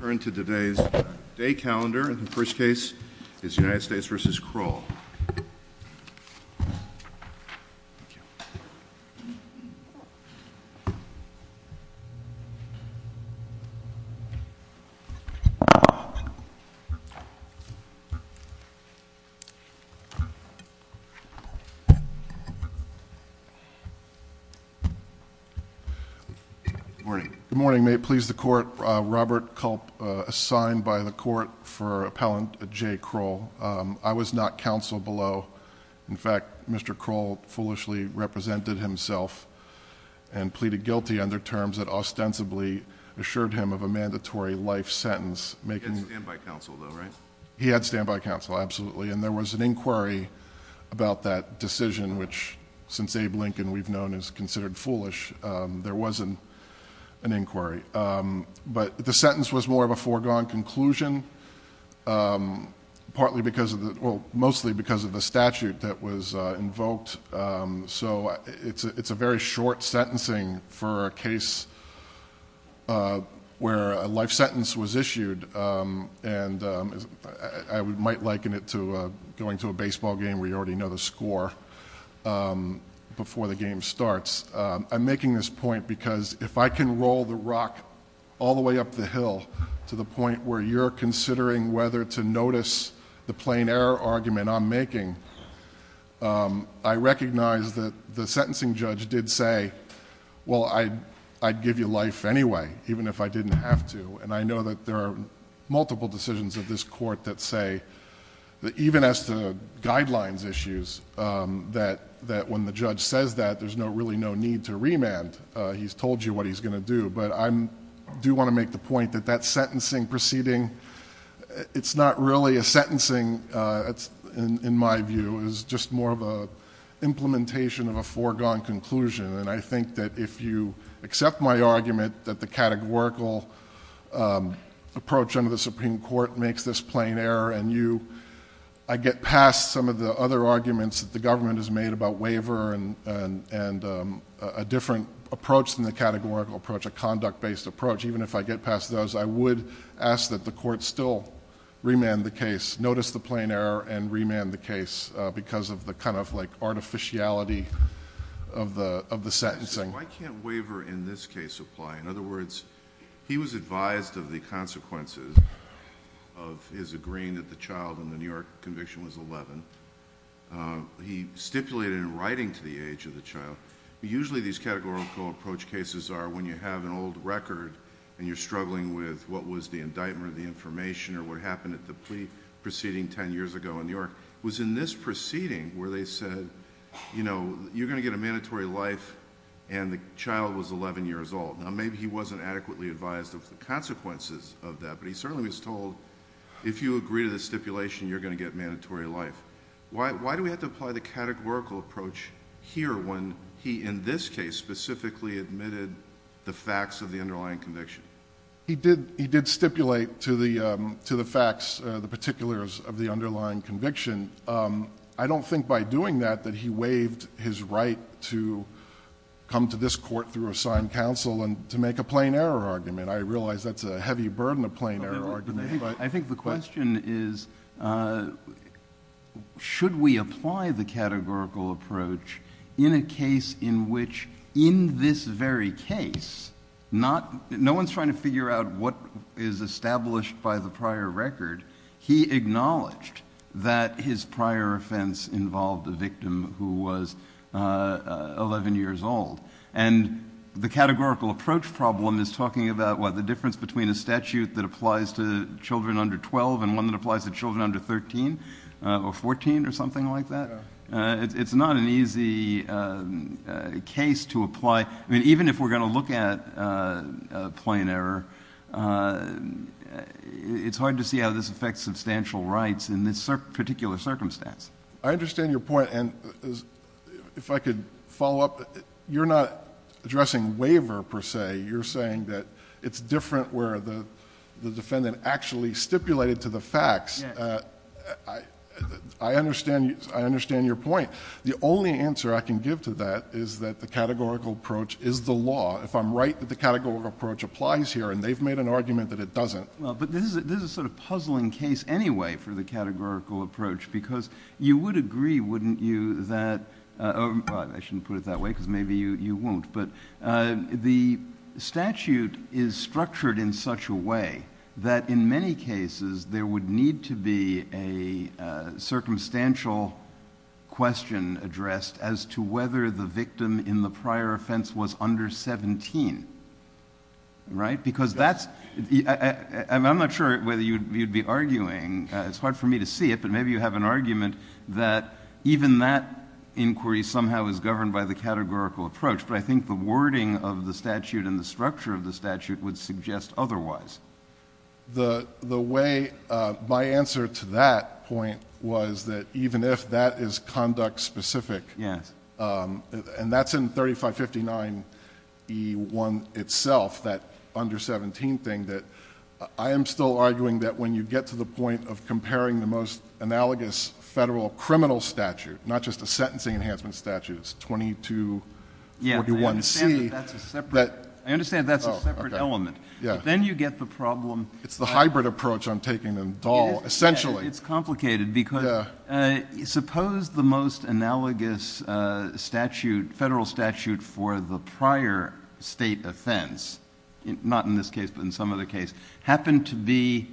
Turn to today's day calendar and the first case is United States v. Kroll. Robert Culp, assigned by the Court for Appellant J. Kroll. I was not counsel below. In fact, Mr. Kroll foolishly represented himself and pleaded guilty under terms that ostensibly assured him of a mandatory life sentence. He had standby counsel, though, right? He had standby counsel, absolutely, and there was an inquiry about that decision, which since Abe Lincoln we've known is considered foolish, there wasn't an inquiry. But the sentence was more of a foregone conclusion, mostly because of the statute that was invoked. So it's a very short sentencing for a case where a life sentence was issued, and I might liken it to going to a baseball game where you already know the score before the game starts. I'm making this point because if I can roll the rock all the way up the hill to the point where you're considering whether to notice the plain error argument I'm making, I recognize that the sentencing judge did say, well, I'd give you life anyway, even if I didn't have to. And I know that there are multiple decisions of this court that say, even as to guidelines issues, that when the judge says that, there's really no need to remand. He's told you what he's going to do. But I do want to make the point that that sentencing proceeding, it's not really a sentencing, in my view, it's just more of an implementation of a foregone conclusion. And I think that if you accept my argument that the categorical approach under the Supreme Court makes this plain error, and I get past some of the other arguments that the government has made about waiver and a different approach than the categorical approach, a conduct-based approach, even if I get past those, I would ask that the court still remand the case. Because of the kind of artificiality of the sentencing. Why can't waiver in this case apply? In other words, he was advised of the consequences of his agreeing that the child in the New York conviction was 11. He stipulated in writing to the age of the child, usually these categorical approach cases are when you have an old record and you're struggling with what was the indictment of the information or what happened at the plea proceeding 10 years ago in New York. It was in this proceeding where they said, you know, you're going to get a mandatory life and the child was 11 years old. Now, maybe he wasn't adequately advised of the consequences of that, but he certainly was told if you agree to this stipulation, you're going to get mandatory life. Why do we have to apply the categorical approach here when he, in this case, specifically admitted the facts of the underlying conviction? He did stipulate to the facts, the particulars of the underlying conviction. I don't think by doing that that he waived his right to come to this court through assigned counsel and to make a plain error argument. I realize that's a heavy burden, a plain error argument. I think the question is, should we apply the categorical approach in a case in which, in this very case, no one's trying to figure out what is established by the prior record. He acknowledged that his prior offense involved a victim who was 11 years old. And the categorical approach problem is talking about, what, the difference between a statute that applies to children under 12 and one that applies to children under 13 or 14 or something like that? It's not an easy case to apply. I mean, even if we're going to look at a plain error, it's hard to see how this affects substantial rights in this particular circumstance. I understand your point, and if I could follow up. You're not addressing waiver, per se. You're saying that it's different where the defendant actually stipulated to the facts. I understand your point. The only answer I can give to that is that the categorical approach is the law. If I'm right that the categorical approach applies here, and they've made an argument that it doesn't. But this is a sort of puzzling case, anyway, for the categorical approach, because you would agree, wouldn't you, that the statute is structured in such a way that, in many cases, there would need to be a circumstantial question addressed as to whether the victim in the prior offense was under 17. I'm not sure whether you'd be arguing. It's hard for me to see it, but maybe you have an argument that even that inquiry somehow is governed by the categorical approach. But I think the wording of the statute and the structure of the statute would suggest otherwise. The way my answer to that point was that even if that is conduct specific, and that's in 3559E1 itself, that under 17 thing, that I am still arguing that when you get to the point of comparing the most analogous federal criminal statute, not just a sentencing enhancement statute, it's 2241C. I understand that's a separate element. But then you get the problem. It's the hybrid approach I'm taking, essentially. It's complicated, because suppose the most analogous federal statute for the prior state offense, not in this case, but in some other case, happened to be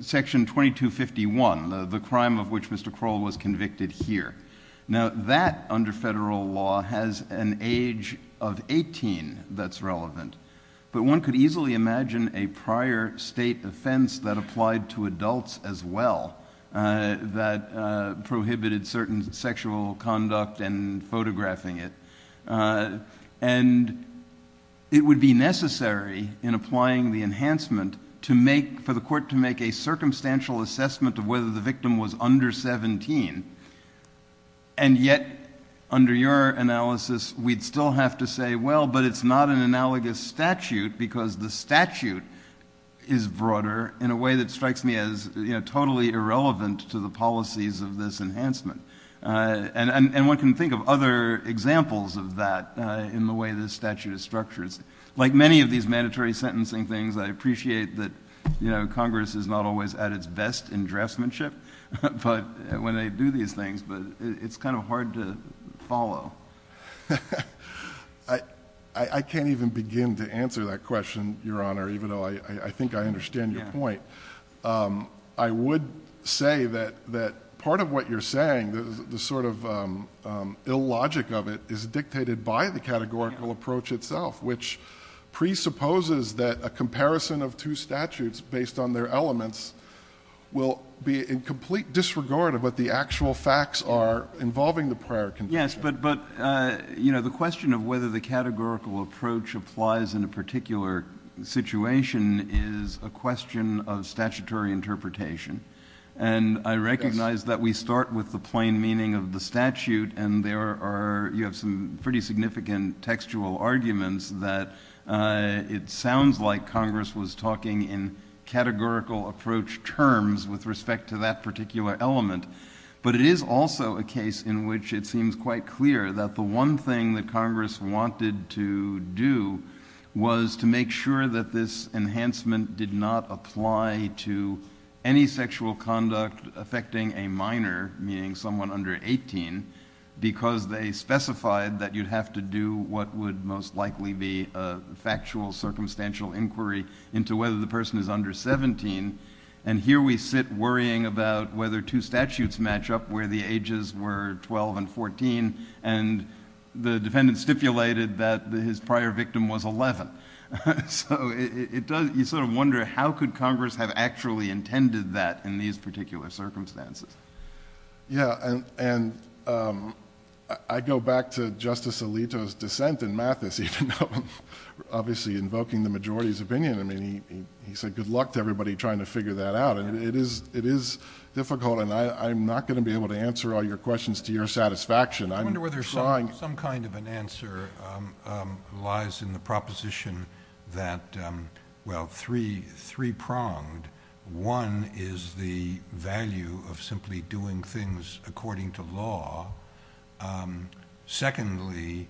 Section 2251, the crime of which Mr. Kroll was convicted here. Now, that under federal law has an age of 18 that's relevant. But one could easily imagine a prior state offense that applied to adults as well that prohibited certain sexual conduct and photographing it. And it would be necessary in applying the enhancement for the court to make a circumstantial assessment of whether the victim was under 17. And yet, under your analysis, we'd still have to say, well, but it's not an analogous statute, because the statute is broader in a way that strikes me as totally irrelevant to the policies of this enhancement. And one can think of other examples of that in the way this statute is structured. Like many of these mandatory sentencing things, I appreciate that Congress is not always at its best in draftsmanship when they do these things. But it's kind of hard to follow. I can't even begin to answer that question, Your Honor, even though I think I understand your point. I would say that part of what you're saying, the sort of illogic of it, is dictated by the categorical approach itself, which presupposes that a comparison of two statutes based on their elements will be in complete disregard of what the actual facts are involving the prior conviction. Yes, but the question of whether the categorical approach applies in a particular situation is a question of statutory interpretation. And I recognize that we start with the plain meaning of the statute, and you have some pretty significant textual arguments that it sounds like Congress was talking in categorical approach terms with respect to that particular element. But it is also a case in which it seems quite clear that the one thing that Congress wanted to do was to make sure that this enhancement did not apply to any sexual conduct affecting a minor, meaning someone under 18, because they specified that you'd have to do what would most likely be a factual, circumstantial inquiry into whether the person is under 17. And here we sit worrying about whether two statutes match up where the ages were 12 and 14, and the defendant stipulated that his prior victim was 11. So you sort of wonder, how could Congress have actually intended that in these particular circumstances? Yeah, and I go back to Justice Alito's dissent in Mathis, obviously invoking the majority's opinion. I mean, he said good luck to everybody trying to figure that out. And it is difficult, and I'm not going to be able to answer all your questions to your satisfaction. I wonder whether some kind of an answer lies in the proposition that, well, three pronged. One is the value of simply doing things according to law. Secondly,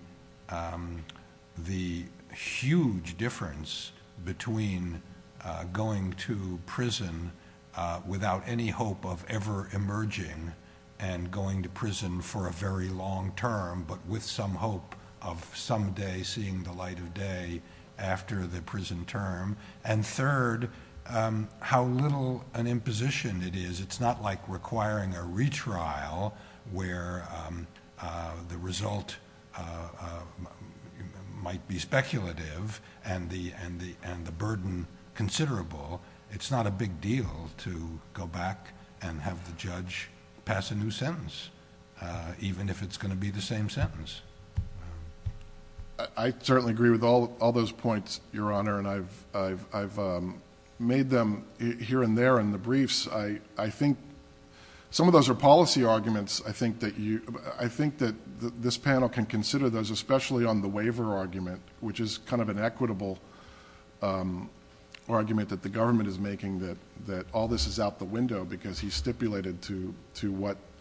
the huge difference between going to prison without any hope of ever emerging and going to prison for a very long term, but with some hope of someday seeing the light of day after the prison term. And third, how little an imposition it is. It's not like requiring a retrial where the result might be speculative and the burden considerable. It's not a big deal to go back and have the judge pass a new sentence, even if it's going to be the same sentence. I certainly agree with all those points, Your Honor, and I've made them here and there in the briefs. I think some of those are policy arguments. I think that this panel can consider those, especially on the waiver argument, which is kind of an equitable argument that the government is making that all this is out the window because he stipulated to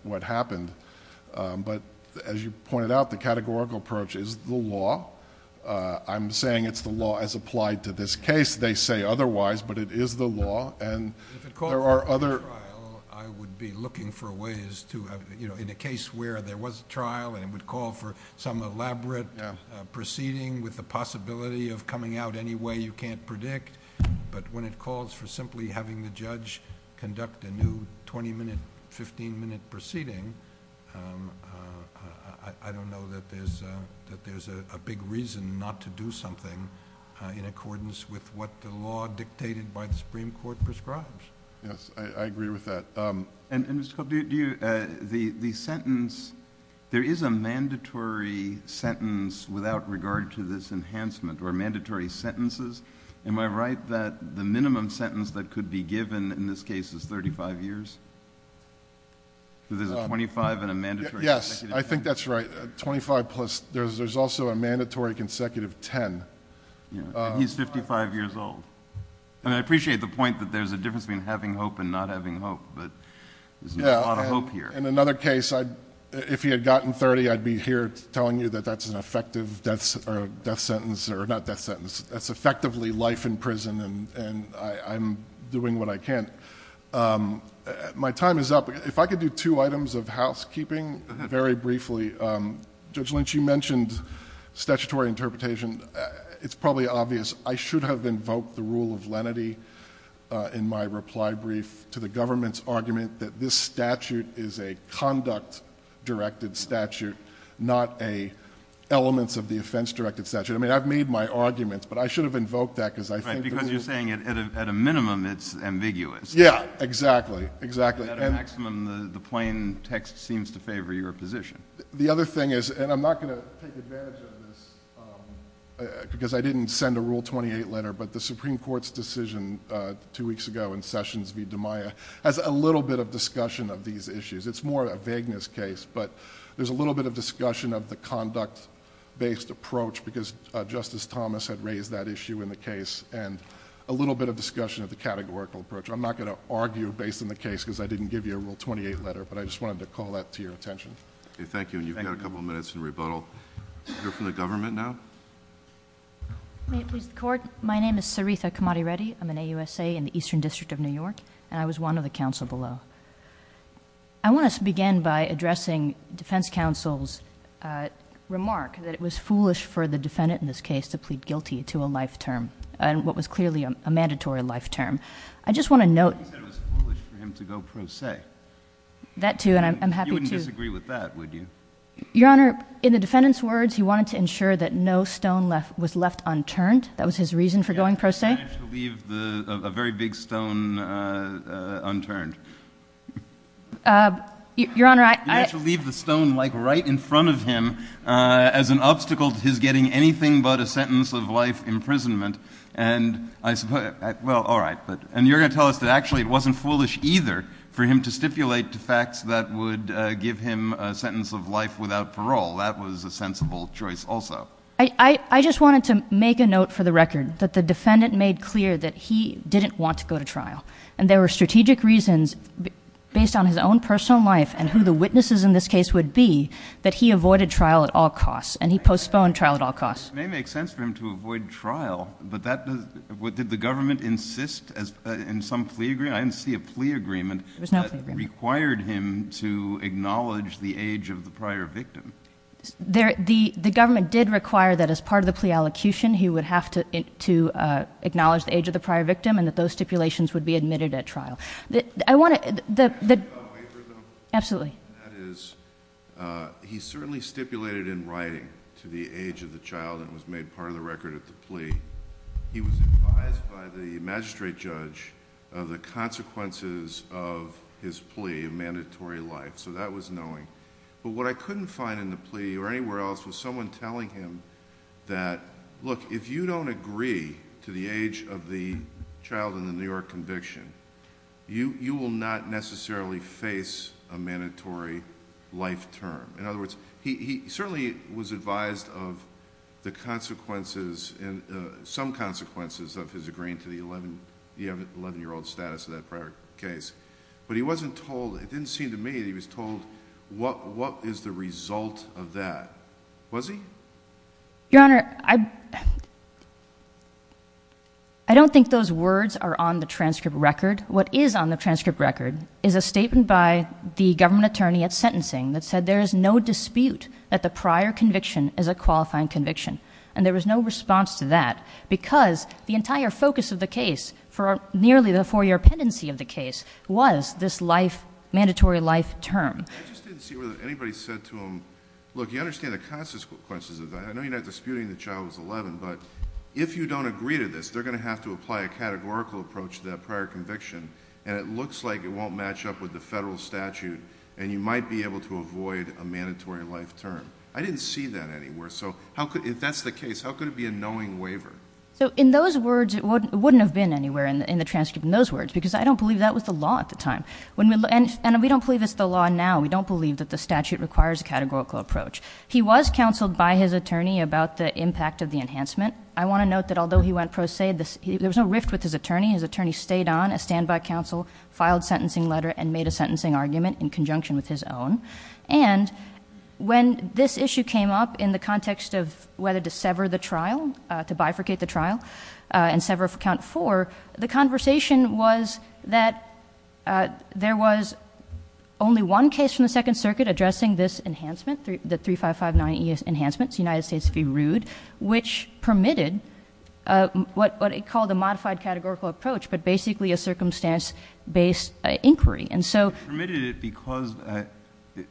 what happened. But as you pointed out, the categorical approach is the law. I'm saying it's the law as applied to this case. They say otherwise, but it is the law. If it calls for a retrial, I would be looking for ways to have, you know, in a case where there was a trial and it would call for some elaborate proceeding with the possibility of coming out any way you can't predict. But when it calls for simply having the judge conduct a new 20-minute, 15-minute proceeding, I don't know that there's a big reason not to do something in accordance with what the law dictated by the Supreme Court prescribes. Yes, I agree with that. And, Mr. Cobb, do you—the sentence—there is a mandatory sentence without regard to this enhancement, or mandatory sentences. Am I right that the minimum sentence that could be given in this case is 35 years? There's a 25 and a mandatory consecutive 10. Yes, I think that's right. 25 plus—there's also a mandatory consecutive 10. And he's 55 years old. And I appreciate the point that there's a difference between having hope and not having hope, but there's a lot of hope here. In another case, if he had gotten 30, I'd be here telling you that that's an effective death sentence—or not death sentence, that's effectively life in prison and I'm doing what I can. My time is up. If I could do two items of housekeeping very briefly. Judge Lynch, you mentioned statutory interpretation. It's probably obvious. I should have invoked the rule of lenity in my reply brief to the government's argument that this statute is a conduct-directed statute, not elements of the offense-directed statute. I mean, I've made my arguments, but I should have invoked that because I think— Right, because you're saying at a minimum, it's ambiguous. Yeah, exactly. At a maximum, the plain text seems to favor your position. The other thing is—and I'm not going to take advantage of this because I didn't send a Rule 28 letter, but the Supreme Court's decision two weeks ago in Sessions v. DiMaia has a little bit of discussion of these issues. It's more a vagueness case, but there's a little bit of discussion of the conduct-based approach because Justice Thomas had raised that issue in the case and a little bit of discussion of the categorical approach. I'm not going to argue based on the case because I didn't give you a Rule 28 letter, but I just wanted to call that to your attention. Thank you, and you've got a couple of minutes in rebuttal. You're from the government now? May it please the Court? My name is Saritha Kamadi Reddy. I'm an AUSA in the Eastern District of New York, and I was one of the counsel below. I want to begin by addressing defense counsel's remark that it was foolish for the defendant in this case to plead guilty to a life term, and what was clearly a mandatory life term. I just want to note— It was foolish for him to go pro se. That too, and I'm happy to— Your Honor, in the defendant's words, he wanted to ensure that no stone was left unturned. That was his reason for going pro se. He managed to leave a very big stone unturned. Your Honor, I— He managed to leave the stone, like, right in front of him as an obstacle to his getting anything but a sentence of life imprisonment. Well, all right, but— And you're going to tell us that actually it wasn't foolish either for him to stipulate the facts that would give him a sentence of life without parole. That was a sensible choice also. I just wanted to make a note for the record that the defendant made clear that he didn't want to go to trial, and there were strategic reasons based on his own personal life and who the witnesses in this case would be that he avoided trial at all costs, and he postponed trial at all costs. It may make sense for him to avoid trial, but that—did the government insist in some plea agreement? I didn't see a plea agreement— There was no plea agreement. —that required him to acknowledge the age of the prior victim. The government did require that as part of the plea allocution, he would have to acknowledge the age of the prior victim and that those stipulations would be admitted at trial. I want to— Can I make a waiver, though? Absolutely. That is, he certainly stipulated in writing to the age of the child that was made part of the record of the plea. He was advised by the magistrate judge of the consequences of his plea of mandatory life, so that was knowing. What I couldn't find in the plea or anywhere else was someone telling him that, look, if you don't agree to the age of the child in the New York conviction, you will not necessarily face a mandatory life term. In other words, he certainly was advised of the consequences and some consequences of his agreeing to the eleven-year-old status of that prior case, but he wasn't told. It didn't seem to me that he was told what is the result of that. Was he? Your Honor, I don't think those words are on the transcript record. What is on the transcript record is a statement by the government attorney at sentencing that said there is no dispute that the prior conviction is a qualifying conviction. And there was no response to that because the entire focus of the case for nearly the four-year pendency of the case was this life, mandatory life term. I just didn't see whether anybody said to him, look, you understand the consequences of that. I know you're not disputing the child was eleven, but if you don't agree to this, they're going to have to apply a categorical approach to that prior conviction, and it looks like it won't match up with the federal statute, and you might be able to avoid a mandatory life term. I didn't see that anywhere. So if that's the case, how could it be a knowing waiver? So in those words, it wouldn't have been anywhere in the transcript in those words because I don't believe that was the law at the time. And we don't believe it's the law now. We don't believe that the statute requires a categorical approach. He was counseled by his attorney about the impact of the enhancement. I want to note that although he went pro se, there was no rift with his attorney. His attorney stayed on as standby counsel, filed sentencing letter, and made a sentencing argument in conjunction with his own. And when this issue came up in the context of whether to sever the trial, to bifurcate the trial, and sever count four, the conversation was that there was only one case from the Second Circuit addressing this enhancement, the 3559 enhancements, United States v. Rood, which permitted what it called a modified categorical approach, but basically a circumstance-based inquiry. And so — I permitted it because —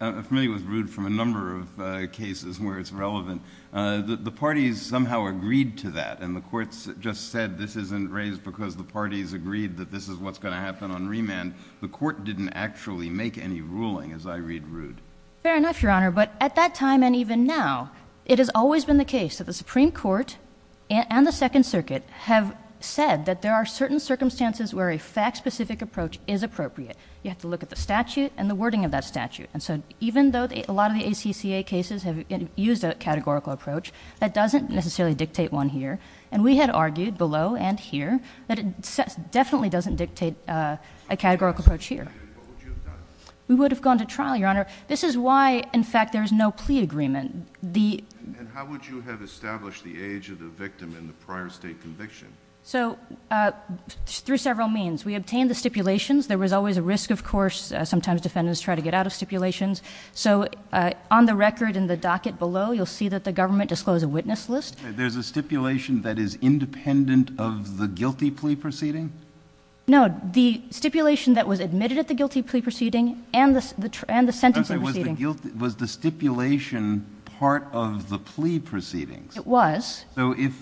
I'm familiar with Rood from a number of cases where it's relevant. The parties somehow agreed to that, and the courts just said this isn't raised because the parties agreed that this is what's going to happen on remand. The court didn't actually make any ruling, as I read Rood. Fair enough, Your Honor. But at that time and even now, it has always been the case that the Supreme Court and the Second Circuit have said that there are certain circumstances where a fact-specific approach is appropriate. You have to look at the statute and the wording of that statute. And so even though a lot of the ACCA cases have used a categorical approach, that doesn't necessarily dictate one here. And we had argued below and here that it definitely doesn't dictate a categorical approach here. What would you have done? We would have gone to trial, Your Honor. This is why, in fact, there is no plea agreement. And how would you have established the age of the victim in the prior state conviction? So through several means. We obtained the stipulations. There was always a risk, of course. Sometimes defendants try to get out of stipulations. So on the record in the docket below, you'll see that the government disclosed a witness list. Okay. There's a stipulation that is independent of the guilty plea proceeding? No. The stipulation that was admitted at the guilty plea proceeding and the sentencing proceeding. Okay. Was the stipulation part of the plea proceedings? It was. So if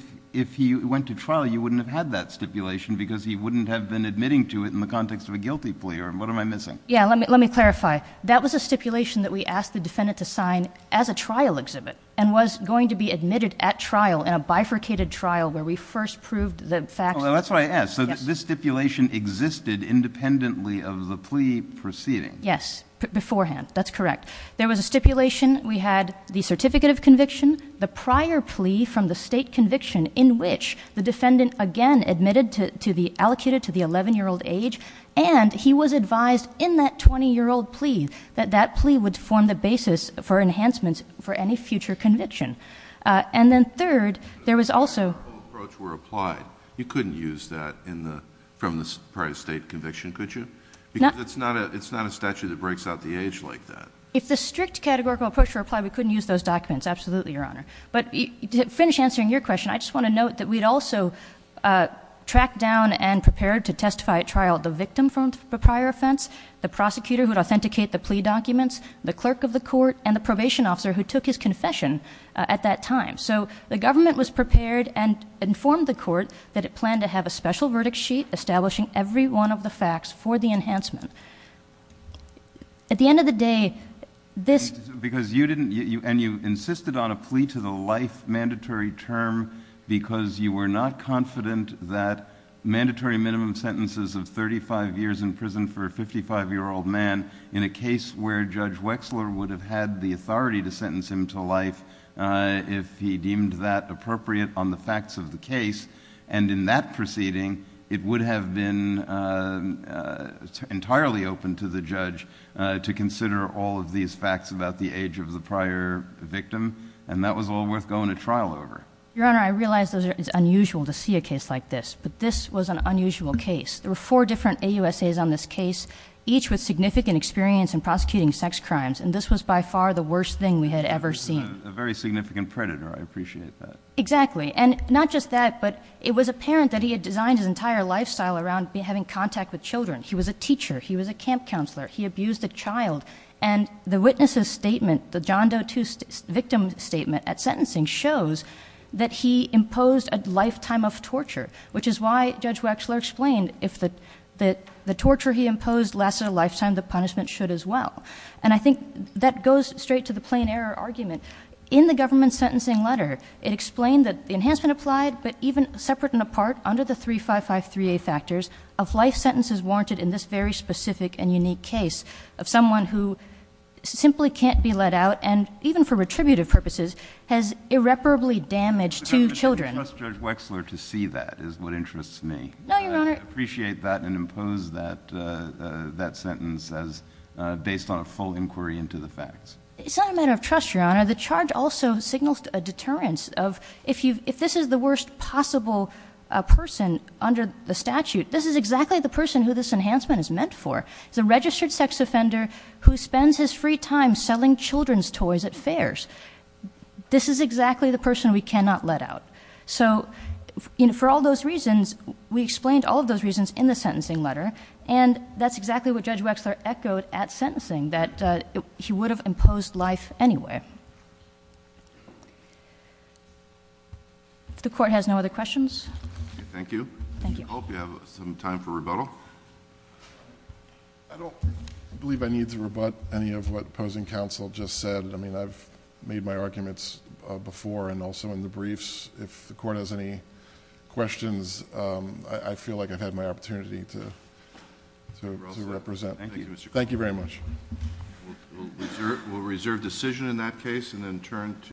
he went to trial, you wouldn't have had that stipulation because he wouldn't have been admitting to it in the context of a guilty plea? Or what am I missing? Yeah. Let me clarify. That was a stipulation that we asked the defendant to sign as a trial exhibit and was going to be admitted at trial in a bifurcated trial where we first proved the facts. That's what I asked. So this stipulation existed independently of the plea proceeding? Yes. Beforehand. That's correct. There was a stipulation. We had the certificate of conviction. The prior plea from the state conviction in which the defendant, again, admitted to be allocated to the 11-year-old age. And he was advised in that 20-year-old plea that that plea would form the basis for enhancements for any future conviction. And then third, there was also — If the strict categorical approach were applied, you couldn't use that from the prior state conviction, could you? Because it's not a statute that breaks out the age like that. If the strict categorical approach were applied, we couldn't use those documents. Absolutely, Your Honor. But to finish answering your question, I just want to note that we'd also tracked down and prepared to testify at trial the victim from the prior offense, the prosecutor who'd authenticate the plea documents, the clerk of the court, and the probation officer who took his confession at that time. So the government was prepared and informed the court that it planned to have a special verdict sheet establishing every one of the facts for the enhancement. At the end of the day, this — Because you didn't — and you insisted on a plea to the life mandatory term because you were not confident that mandatory minimum sentences of 35 years in prison for a 55-year-old man, in a case where Judge Wexler would have had the authority to sentence him to life if he deemed that appropriate on the facts of the case, and in that proceeding, it would have been entirely open to the judge to consider all of these facts about the age of the prior victim, and that was all worth going to trial over. Your Honor, I realize that it's unusual to see a case like this, but this was an unusual case. There were four different AUSAs on this case, each with significant experience in prosecuting sex crimes, and this was by far the worst thing we had ever seen. A very significant predator. I appreciate that. Exactly. And not just that, but it was apparent that he had designed his entire lifestyle around having contact with children. He was a teacher. He was a camp counselor. He abused a child. And the witness's statement, the John Doe II victim's statement at sentencing shows that he imposed a lifetime of torture, which is why Judge Wexler explained if the torture he imposed lasted a lifetime, the punishment should as well. And I think that goes straight to the plain error argument. In the government sentencing letter, it explained that the enhancement applied, but even separate and apart under the 3553A factors, of life sentences warranted in this very specific and unique case of someone who simply can't be let out and even for retributive purposes has irreparably damaged two children. But, Your Honor, I don't trust Judge Wexler to see that is what interests me. No, Your Honor. I appreciate that and impose that sentence as based on a full inquiry into the facts. It's not a matter of trust, Your Honor. The charge also signals a deterrence of if this is the worst possible person under the statute, this is exactly the person who this enhancement is meant for. It's a registered sex offender who spends his free time selling children's toys at fairs. This is exactly the person we cannot let out. So, for all those reasons, we explained all of those reasons in the sentencing letter, and that's exactly what Judge Wexler echoed at sentencing, that he would have imposed life anyway. If the Court has no other questions. Thank you. Thank you. I hope you have some time for rebuttal. I don't believe I need to rebut any of what opposing counsel just said. I mean, I've made my arguments before and also in the briefs. If the Court has any questions, I feel like I've had my opportunity to represent. Thank you. Thank you very much. We'll reserve decision in that case and then turn to...